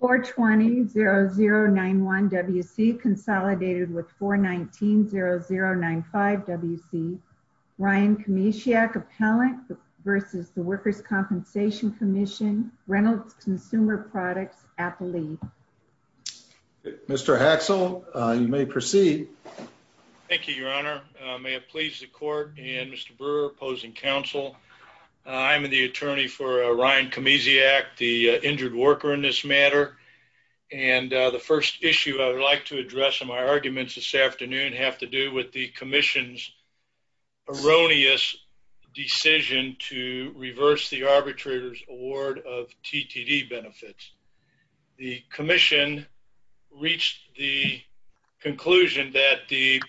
420-0091 WC consolidated with 419-0095 WC. Ryan Kmieciak, Appellant v. The Workers' Compensation Commission, Reynolds Consumer Products, Appalachia. Mr. Haxel, you may proceed. Thank you, your honor. May it please the court and Mr. Brewer, opposing counsel. I'm the attorney for Ryan Kmieciak, the injured worker in this matter. And the first issue I would like to address in my arguments this afternoon have to do with the commission's erroneous decision to reverse the arbitrator's award of TTD benefits. The commission reached the conclusion that the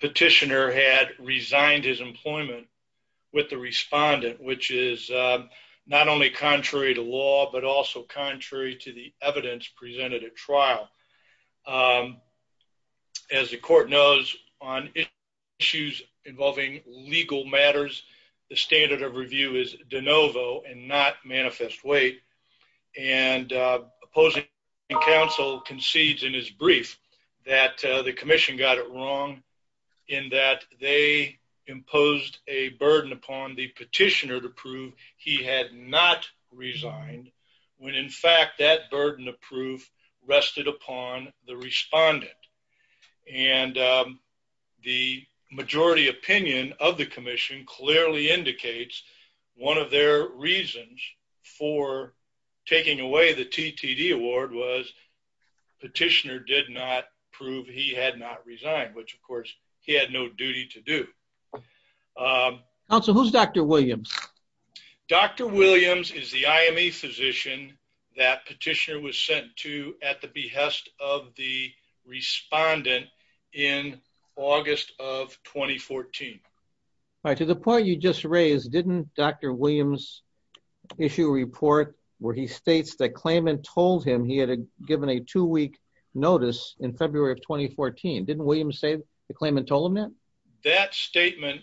petitioner had resigned his employment with the respondent, which is not only contrary to law, but also contrary to the evidence presented at trial. As the court knows, on issues involving legal matters, the standard of review is de novo and not manifest weight. And opposing counsel concedes in his brief that the commission got it wrong in that they imposed a burden upon the petitioner to prove he had not resigned when, in fact, that burden of proof rested upon the respondent. And the majority opinion of the reasons for taking away the TTD award was petitioner did not prove he had not resigned, which, of course, he had no duty to do. Counsel, who's Dr. Williams? Dr. Williams is the IME physician that petitioner was sent to at the behest of the respondent in August of 2014. All right. To the point you just raised, didn't Dr. Williams' issue report where he states that Klayman told him he had given a two-week notice in February of 2014, didn't Williams say that Klayman told him that? That statement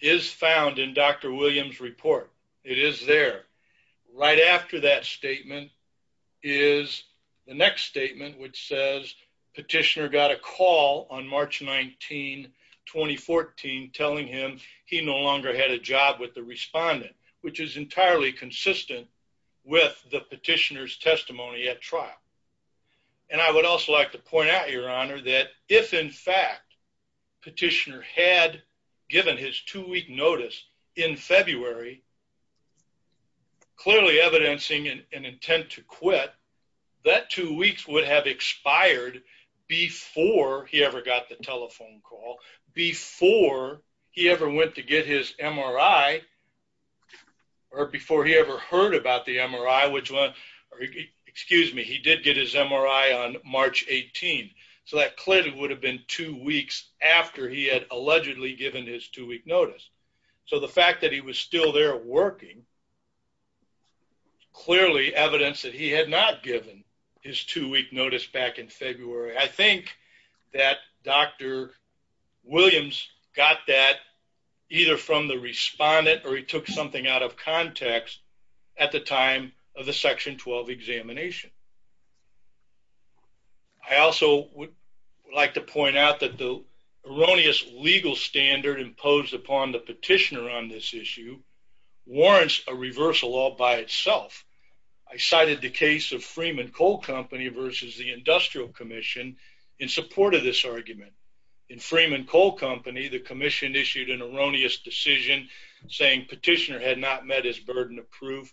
is found in Dr. Williams' report. It is there. Right after that statement is the next statement, which says petitioner got a call on March 19, 2014, telling him he no longer had a job with the respondent, which is entirely consistent with the petitioner's testimony at trial. And I would also like to point out, that if, in fact, petitioner had given his two-week notice in February, clearly evidencing an intent to quit, that two weeks would have expired before he ever got the telephone call, before he ever went to get his MRI, or before he ever heard about the MRI, or excuse me, he did get his MRI on March 18. So that clearly would have been two weeks after he had allegedly given his two-week notice. So the fact that he was still there working, clearly evidence that he had not given his two-week notice back in February. I think that Dr. Williams got that either from the respondent or he took something out of context at the time of the Section 12 examination. I also would like to point out that the erroneous legal standard imposed upon the petitioner on this issue warrants a reversal all by itself. I cited the case of Freeman Coal Company versus the Industrial Commission in support of this argument. In Freeman Coal Company, the commission issued an erroneous decision saying petitioner had not met his burden of proof,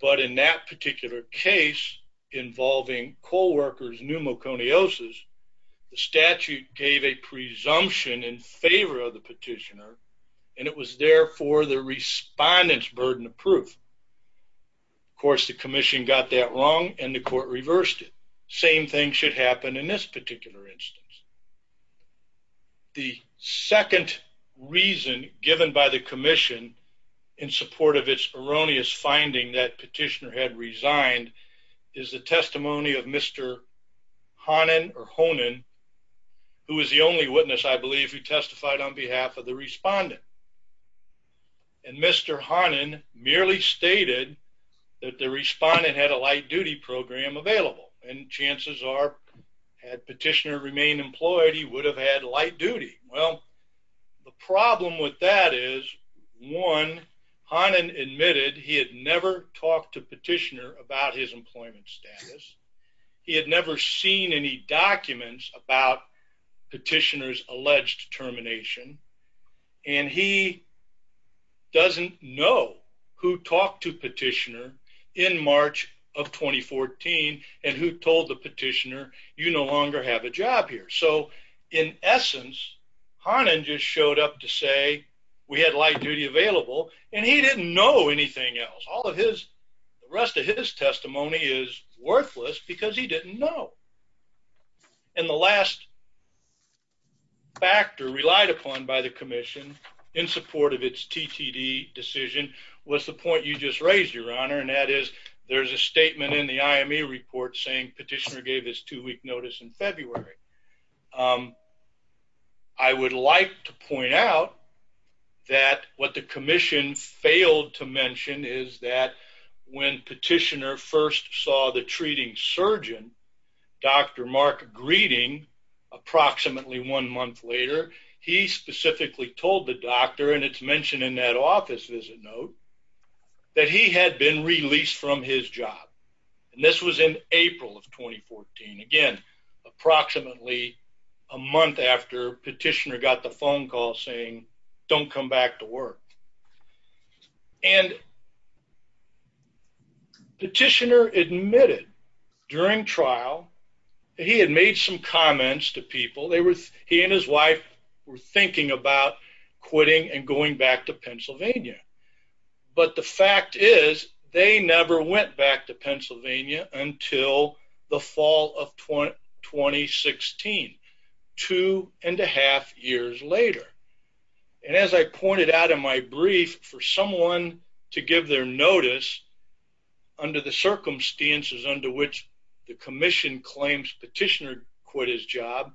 but in that particular case involving coal workers pneumoconiosis, the statute gave a presumption in favor of the petitioner and it was therefore the respondent's burden of proof. Of course, the commission got that wrong and the court reversed it. The same thing should happen in this particular instance. The second reason given by the commission in support of its erroneous finding that petitioner had resigned is the testimony of Mr. Honan, who is the only witness I believe who testified on behalf of the respondent. And Mr. Honan merely stated that the respondent had a light duty program available and chances are had petitioner remained employed, he would have had light duty. Well, the problem with that is, one, Honan admitted he had never talked to petitioner about his employment status. He had never seen any documents about petitioner's alleged termination and he doesn't know who talked to petitioner in March of 2014 and who told the petitioner you no longer have a job here. So in essence, Honan just showed up to say we had light duty available and he didn't know anything else. All of his, the rest of his testimony is worthless because he didn't know. And the last factor relied upon by the commission in support of its TTD decision was the point you just raised, your honor, and that is there's a statement in the IME report saying petitioner gave his two-week notice in February. I would like to point out that what commission failed to mention is that when petitioner first saw the treating surgeon, Dr. Mark Greeding, approximately one month later, he specifically told the doctor, and it's mentioned in that office visit note, that he had been released from his job. And this was in April of 2014. Again, approximately a month after petitioner got the phone call saying don't come back to work. And petitioner admitted during trial that he had made some comments to people. They were, he and his wife were thinking about quitting and going back to Pennsylvania. But the fact is they never went back to Pennsylvania until the fall of 2016, two and a half years later. And as I pointed out in my brief, for someone to give their notice under the circumstances under which the commission claims petitioner quit his job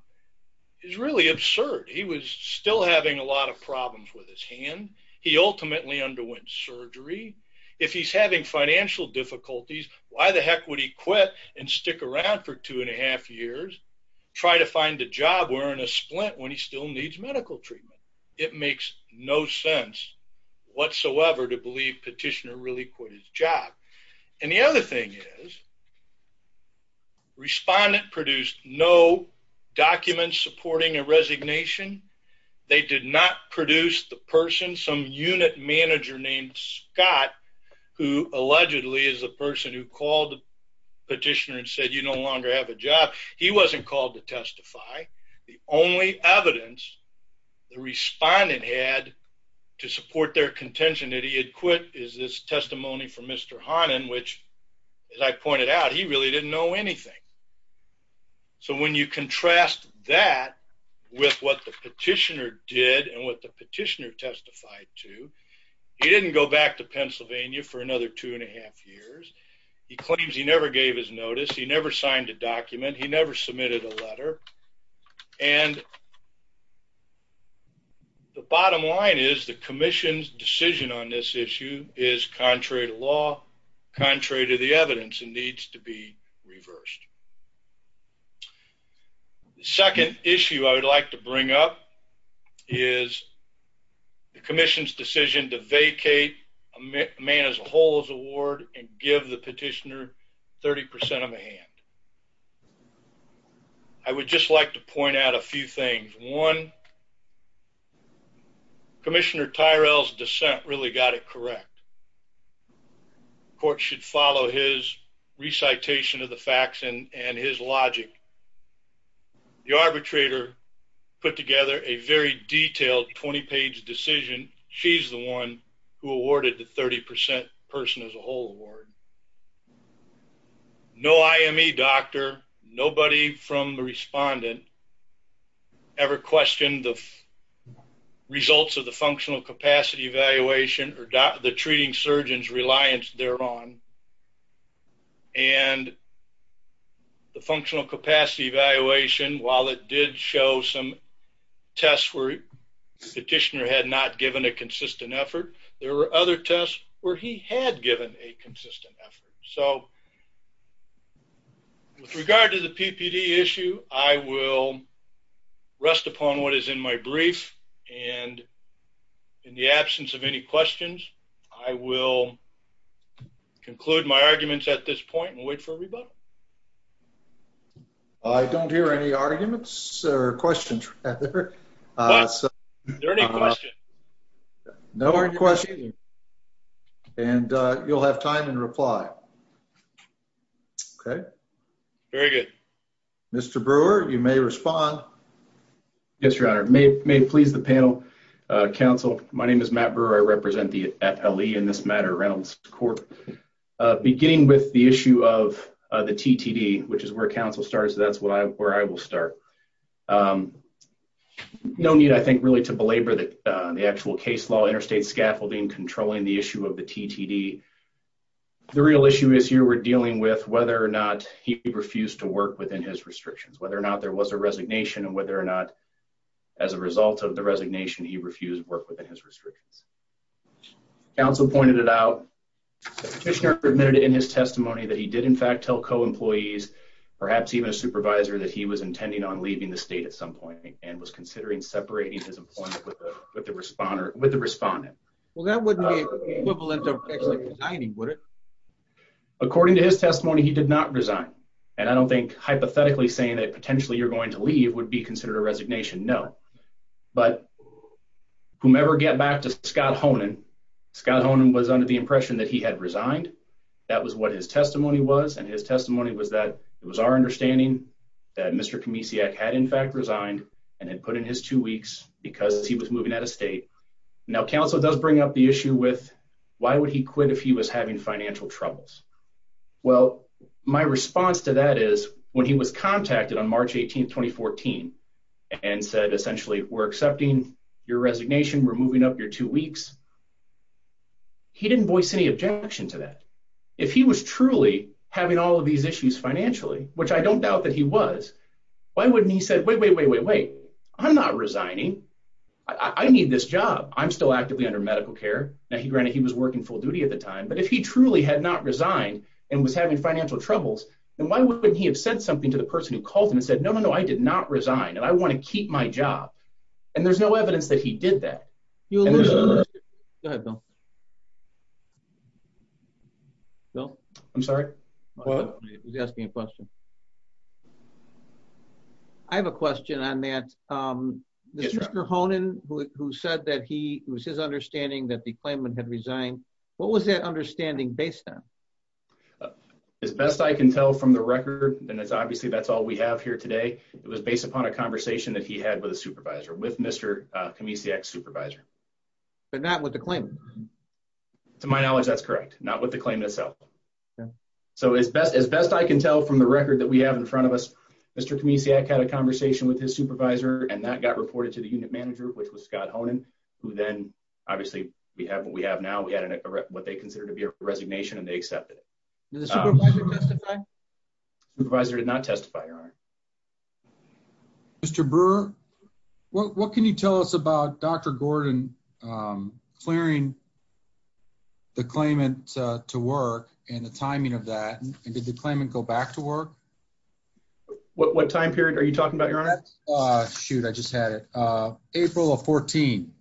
is really absurd. He was still having a lot of problems with his hand. He ultimately underwent surgery. If he's having financial difficulties, why the heck would he quit and stick around for two and a half years, try to find a job wearing a splint when he still needs medical treatment? It makes no sense whatsoever to believe petitioner really quit his job. And the other thing is, respondent produced no documents supporting a resignation. They did not produce the person, some unit manager named Scott, who allegedly is a person who called petitioner and said you no longer have a job. He wasn't called to testify. The only evidence the respondent had to support their contention that he had quit is this testimony from Mr. Honan, which, as I pointed out, he really didn't know anything. So when you contrast that with what the petitioner did and what the petitioner testified to, he didn't go back to Pennsylvania for another two and a half years. He claims he never gave his notice. He never signed a document. He never submitted a letter. And the bottom line is the commission's decision on this issue is contrary to law, contrary to the evidence, and needs to be reversed. The second issue I would like to bring up is the commission's decision to vacate a man as a whole's award and give the petitioner 30% of a hand. I would just like to point out a few things. One, Commissioner Tyrell's dissent really got it correct. The court should follow his recitation of the facts and his logic. The arbitrator put together a very detailed 20-page decision. She's the one who awarded the 30% person as a whole award. No IME doctor, nobody from the respondent ever questioned the results of the functional capacity evaluation or the treating surgeon's reliance thereon. And the functional capacity evaluation, while it did show some tests where the petitioner had not given a consistent effort, there were other tests where he had given a consistent effort. So with regard to the PPD issue, I will rest upon what is in my brief. And in the absence of any questions, I will conclude my arguments at this point and wait for a rebuttal. I don't hear any arguments or questions. Is there any questions? No questions. And you'll have time and reply. Okay. Very good. Mr. Brewer, you may respond. Yes, Your Honor. May it please the panel, counsel, my name is Matt Brewer. I represent the FLE in beginning with the issue of the TTD, which is where counsel starts. That's where I will start. No need, I think, really to belabor the actual case law, interstate scaffolding, controlling the issue of the TTD. The real issue is here we're dealing with whether or not he refused to work within his restrictions, whether or not there was a resignation and whether or not as a result of the resignation, he refused to work within his restrictions. As counsel pointed it out, the petitioner admitted in his testimony that he did in fact tell co-employees, perhaps even a supervisor, that he was intending on leaving the state at some point and was considering separating his employment with the respondent. Well, that wouldn't be equivalent to actually resigning, would it? According to his testimony, he did not resign. And I don't think hypothetically saying that potentially you're going to leave would be considered a resignation, no. But whomever get back to Scott Honan, Scott Honan was under the impression that he had resigned. That was what his testimony was. And his testimony was that it was our understanding that Mr. Kamisiak had in fact resigned and had put in his two weeks because he was moving out of state. Now, counsel does bring up the issue with why would he quit if he was having financial troubles? Well, my response to that is when he was contacted on March 18th, 2014, and said we're accepting your resignation, we're moving up your two weeks, he didn't voice any objection to that. If he was truly having all of these issues financially, which I don't doubt that he was, why wouldn't he said, wait, wait, wait, wait, wait, I'm not resigning. I need this job. I'm still actively under medical care. Now, granted, he was working full duty at the time. But if he truly had not resigned and was having financial troubles, then why wouldn't he have said something to the person who called him and said, no, no, no, I did not resign and I want to keep my job. And there's no evidence that he did that. Bill, I'm sorry. He's asking a question. I have a question on that. Mr. Honan, who said that he was his understanding that the claimant had resigned. What was that understanding based on? As best I can tell from the record, then it's obviously that's all we have here today. It was based upon a conversation that he had with a supervisor, with Mr. Kamisiak's supervisor. But not with the claim. To my knowledge, that's correct. Not with the claim itself. So as best as best I can tell from the record that we have in front of us, Mr. Kamisiak had a conversation with his supervisor and that got reported to the unit manager, which was Scott Honan, who then obviously we have what we have now. We had what they consider to be a resignation and they accepted it. Did the supervisor testify? Supervisor did not testify, Your Honor. Mr. Brewer, what can you tell us about Dr. Gordon clearing the claimant to work and the timing of that? And did the claimant go back to work? What time period are you talking about, Your Honor? Shoot, I just had it. April of 14.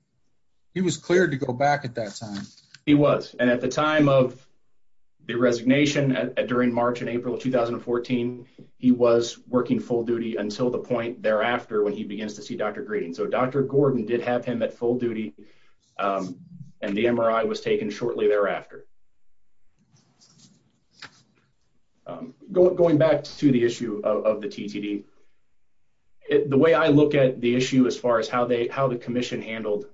He was cleared to go back at that time. He was. And at the time of the resignation, during March and April of 2014, he was working full duty until the point thereafter when he begins to see Dr. Green. So Dr. Gordon did have him at full duty and the MRI was taken shortly thereafter. Going back to the issue of the TTD, the way I look at the issue as far as how the commission handled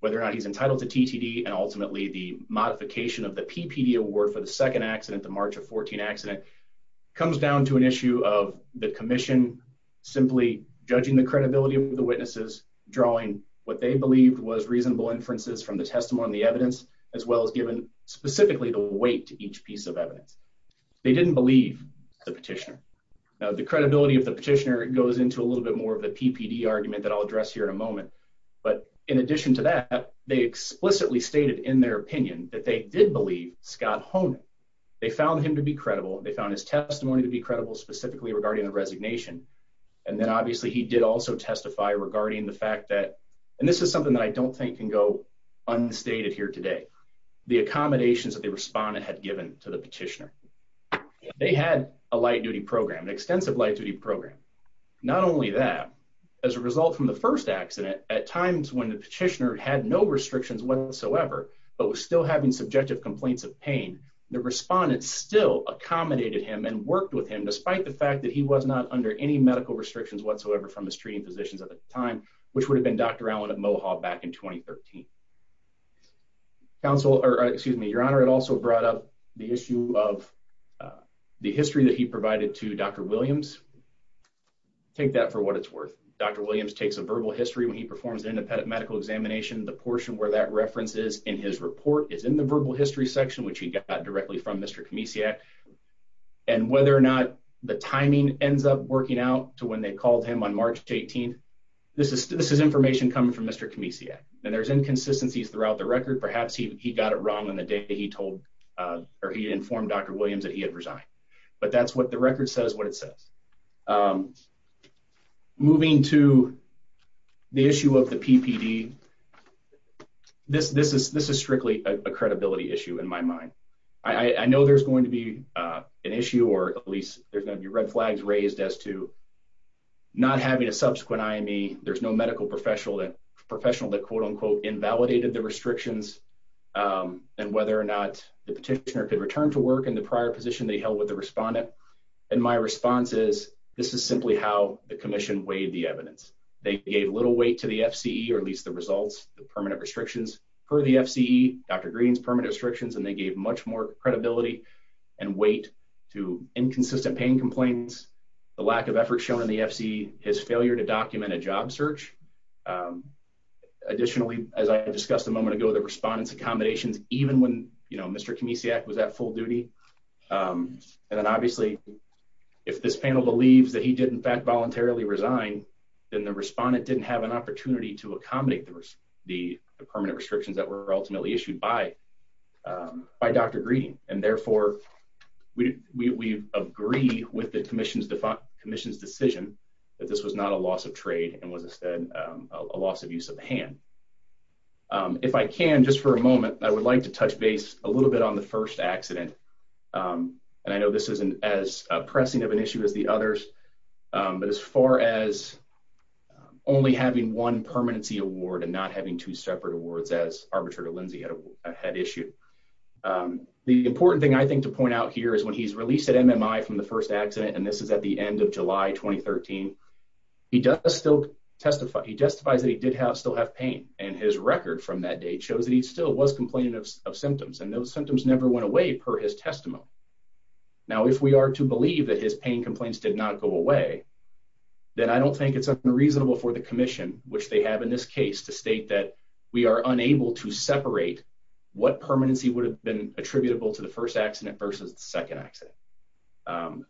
whether or not he's entitled to TTD and ultimately the modification of the accident comes down to an issue of the commission simply judging the credibility of the witnesses, drawing what they believed was reasonable inferences from the testimony, the evidence, as well as given specifically the weight to each piece of evidence. They didn't believe the petitioner. The credibility of the petitioner goes into a little bit more of the PPD argument that I'll address here in a moment. But in addition to that, they explicitly stated in their opinion that they did believe Scott Honig. They found him to be credible. They found his testimony to be credible specifically regarding the resignation. And then obviously he did also testify regarding the fact that, and this is something that I don't think can go unstated here today, the accommodations that the respondent had given to the petitioner. They had a light duty program, an extensive light duty program. Not only that, as a result from the first accident, at times when the petitioner had no restrictions whatsoever, but was still having subjective complaints of pain, the respondent still accommodated him and worked with him despite the fact that he was not under any medical restrictions whatsoever from his treating physicians at the time, which would have been Dr. Alan at Mohawk back in 2013. Counsel, or excuse me, your honor, it also brought up the issue of the history that he provided to Dr. Williams. Take that for what it's worth. Dr. Williams takes a verbal history when he performs an independent medical examination. The portion where that reference is in his report is in the verbal history section, which he got directly from Mr. Kamesiak and whether or not the timing ends up working out to when they called him on March 18th. This is, this is information coming from Mr. Kamesiak and there's inconsistencies throughout the record. Perhaps he got it wrong on the day that he told, uh, or he informed Dr. Williams that he had resigned, but that's what the record says, what it says. Um, moving to the issue of the PPD, this, this is, this is strictly a credibility issue in my mind. I know there's going to be, uh, an issue or at least there's going to be red flags raised as to not having a subsequent IME. There's no medical professional that professional that quote unquote invalidated the restrictions, um, and whether or not the respondent. And my response is this is simply how the commission weighed the evidence. They gave little weight to the FCE or at least the results, the permanent restrictions for the FCE, Dr. Green's permanent restrictions, and they gave much more credibility and weight to inconsistent pain complaints, the lack of effort shown in the FCE, his failure to document a job search. Um, additionally, as I discussed a moment ago, the respondents accommodations, even when, you know, Mr. Kamesiak was at full duty. Um, and then obviously if this panel believes that he did in fact voluntarily resign, then the respondent didn't have an opportunity to accommodate the the permanent restrictions that were ultimately issued by, um, by Dr. Green. And therefore we, we, we agree with the commission's defined commission's decision that this was not a loss of trade and was instead, um, a loss of use of the hand. Um, if I can, just for a moment, I would like to touch base a little bit on the first accident. Um, and I know this isn't as pressing of an issue as the others, um, but as far as, um, only having one permanency award and not having two separate awards as Arbitrator Lindsey had issued. Um, the important thing I think to point out here is when he's released at MMI from the first accident, and this is at the end of July, 2013, he does still testify. He testifies that he did have still have pain and his record from that date shows that he still was complaining of symptoms and those symptoms never went away per his testimony. Now, if we are to believe that his pain complaints did not go away, then I don't think it's unreasonable for the commission, which they have in this case to state that we are unable to separate what permanency would have been attributable to the first accident versus the second accident. Um,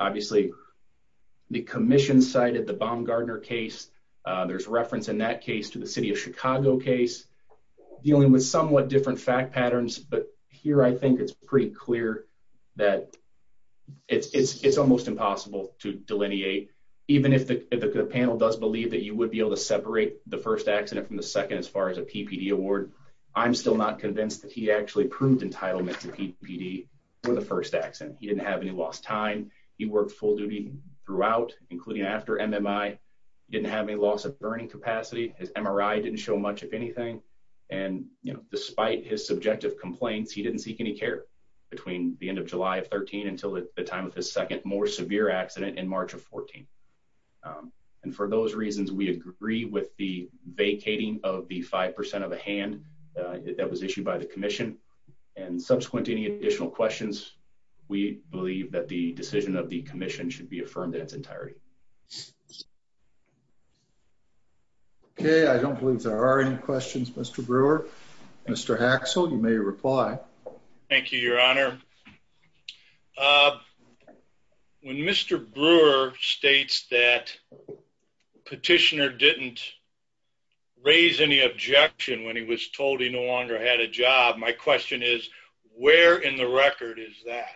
obviously the commission cited the Baumgardner case. Uh, there's in that case to the city of Chicago case dealing with somewhat different fact patterns, but here, I think it's pretty clear that it's, it's, it's almost impossible to delineate. Even if the, if the panel does believe that you would be able to separate the first accident from the second, as far as a PPD award, I'm still not convinced that he actually proved entitlement to PPD for the first accident. He didn't have any lost time. He worked full duty throughout, including after MMI, didn't have any loss of burning capacity. His MRI didn't show much of anything. And, you know, despite his subjective complaints, he didn't seek any care between the end of July of 13 until the time of his second, more severe accident in March of 14. Um, and for those reasons, we agree with the vacating of the 5% of a hand that was issued by the commission and subsequent to any additional questions. We believe that the decision of the commission should be affirmed in its entirety. Okay. I don't believe there are any questions. Mr. Brewer, Mr. Axel, you may reply. Thank you, your honor. Uh, when Mr. Brewer states that petitioner didn't raise any objection when he was told he no longer had a job, my question is where in the record is that?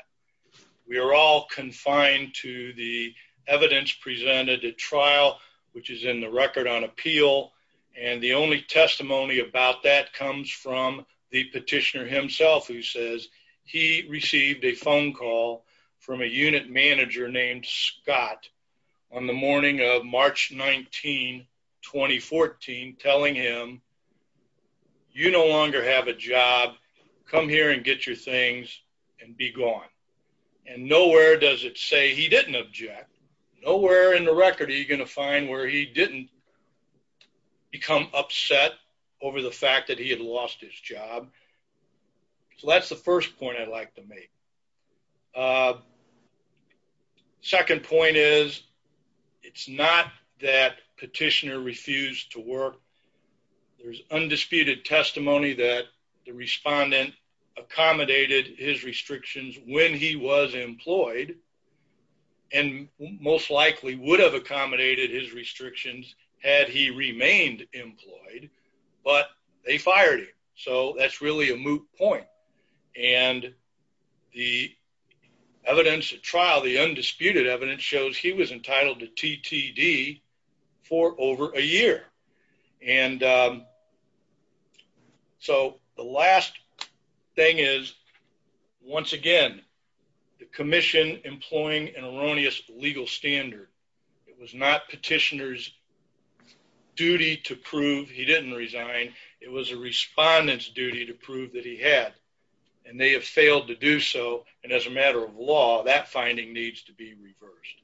We are all confined to the evidence presented at trial, which is in the record on appeal. And the only testimony about that comes from the petitioner himself, who says he received a phone call from a unit manager named Scott on the morning of March 19, 2014, telling him you no longer have a job. Come here and get your things and be gone. And nowhere does it say he didn't object. Nowhere in the record are you going to find where he didn't become upset over the fact that he had lost his job. So that's the first point I'd like to make. Uh, second point is it's not that petitioner refused to work. There's undisputed testimony that the respondent accommodated his restrictions when he was employed and most likely would have accommodated his restrictions had he remained employed. But they fired him. So that's really a moot point. And the evidence at trial, the undisputed evidence shows he was entitled to TTD for over a year. And so the last thing is, once again, the commission employing an erroneous legal standard. It was not petitioners duty to prove he didn't resign. It was a respondent's duty to prove that he had, and they have failed to do so. And as a matter of law, that finding needs to be reversed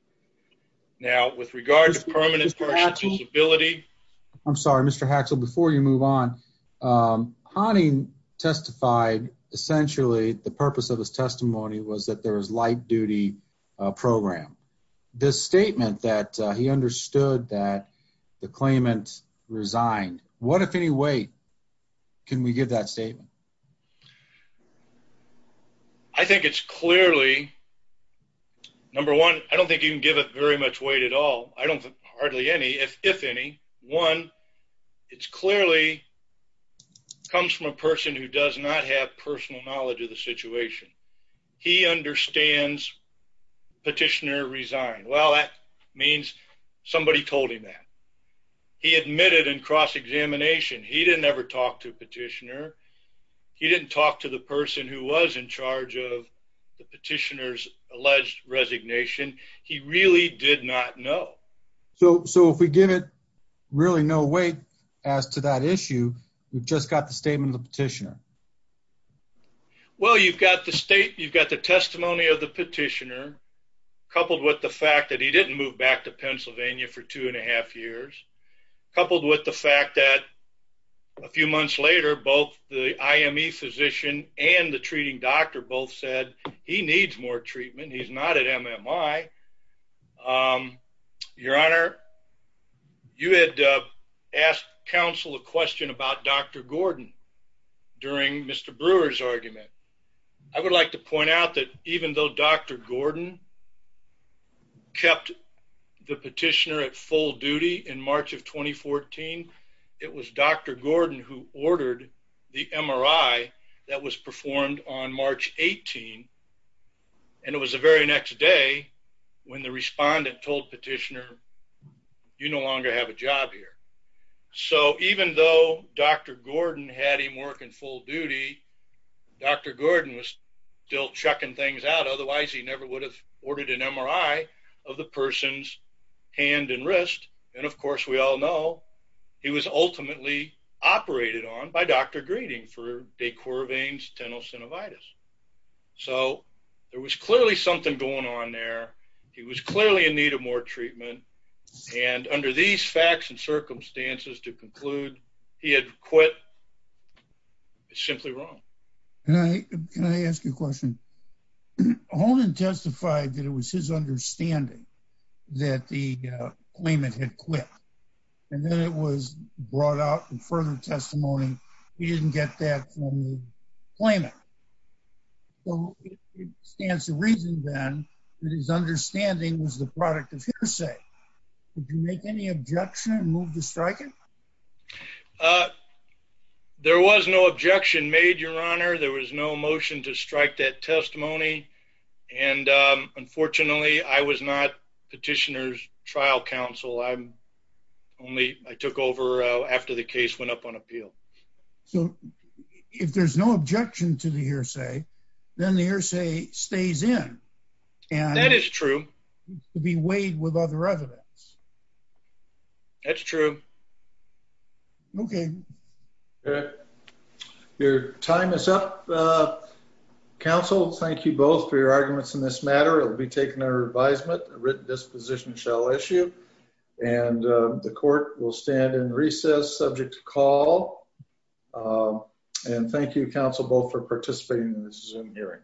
now with regards to permanent person's ability. I'm sorry, Mr Haxel. Before you move on, honey testified. Essentially, the purpose of his testimony was that there is light duty program. This statement that he understood that the claimant resigned. What, if any way, can we give that statement? I think it's clearly number one. I don't think you can give it very much weight at all. I don't hardly any. If any one, it's clearly comes from a person who does not have personal knowledge of the situation. He understands petitioner resigned. Well, that means somebody told him that he admitted in cross examination. He didn't ever talk to petitioner. He didn't talk to the person who was in charge of the petitioner's alleged resignation. He really did not know. So so if we give it really no weight as to that issue, we've just got the statement of the petitioner. Well, you've got the state. You've got the testimony of the petitioner, coupled with the fact that he didn't move back to Pennsylvania for 2.5 years. Coupled with the fact that a few months later, both the I. M. E. Physician and the treating doctor both said he needs more treatment. He's not at M. M. I. Um, Your Honor, you had asked Council a question about Dr Gordon during Mr Brewer's argument. I would like to point out that even though Dr Gordon kept the petitioner at full duty in March of 2014, it was Dr Gordon who ordered the MRI that was performed on March 18. And it was the very next day when the respondent told petitioner, You no longer have a job here. So even though Dr Gordon had him working full duty, Dr Gordon was still checking things out. Otherwise, he never would have ordered an MRI of the person's hand and wrist. And, of course, we all know he was ultimately operated on by Dr. Greeting for decor veins, tenosynovitis. So there was clearly something going on there. He was clearly in need of more treatment. And under these facts and circumstances to conclude, he had quit. It's simply wrong. Can I ask you a question? Holden testified that it was his understanding that the claimant had quit, and then it was brought out in further testimony. He didn't get that from the claimant. So it stands to reason, then, that his understanding was the product of hearsay. Did you make any objection and move to strike it? There was no objection made, Your Honor. There was no motion to strike that testimony. And unfortunately, I was not petitioner's trial counsel. I took over after the case went up on appeal. So if there's no objection to the hearsay, then the hearsay stays in. That is true. To be weighed with other evidence. That's true. Okay. Your time is up, counsel. Thank you both for your arguments in this matter. It will be taken under advisement. A written disposition shall issue, and the court will stand in recess, subject to call. And thank you, counsel, both for participating in this Zoom hearing.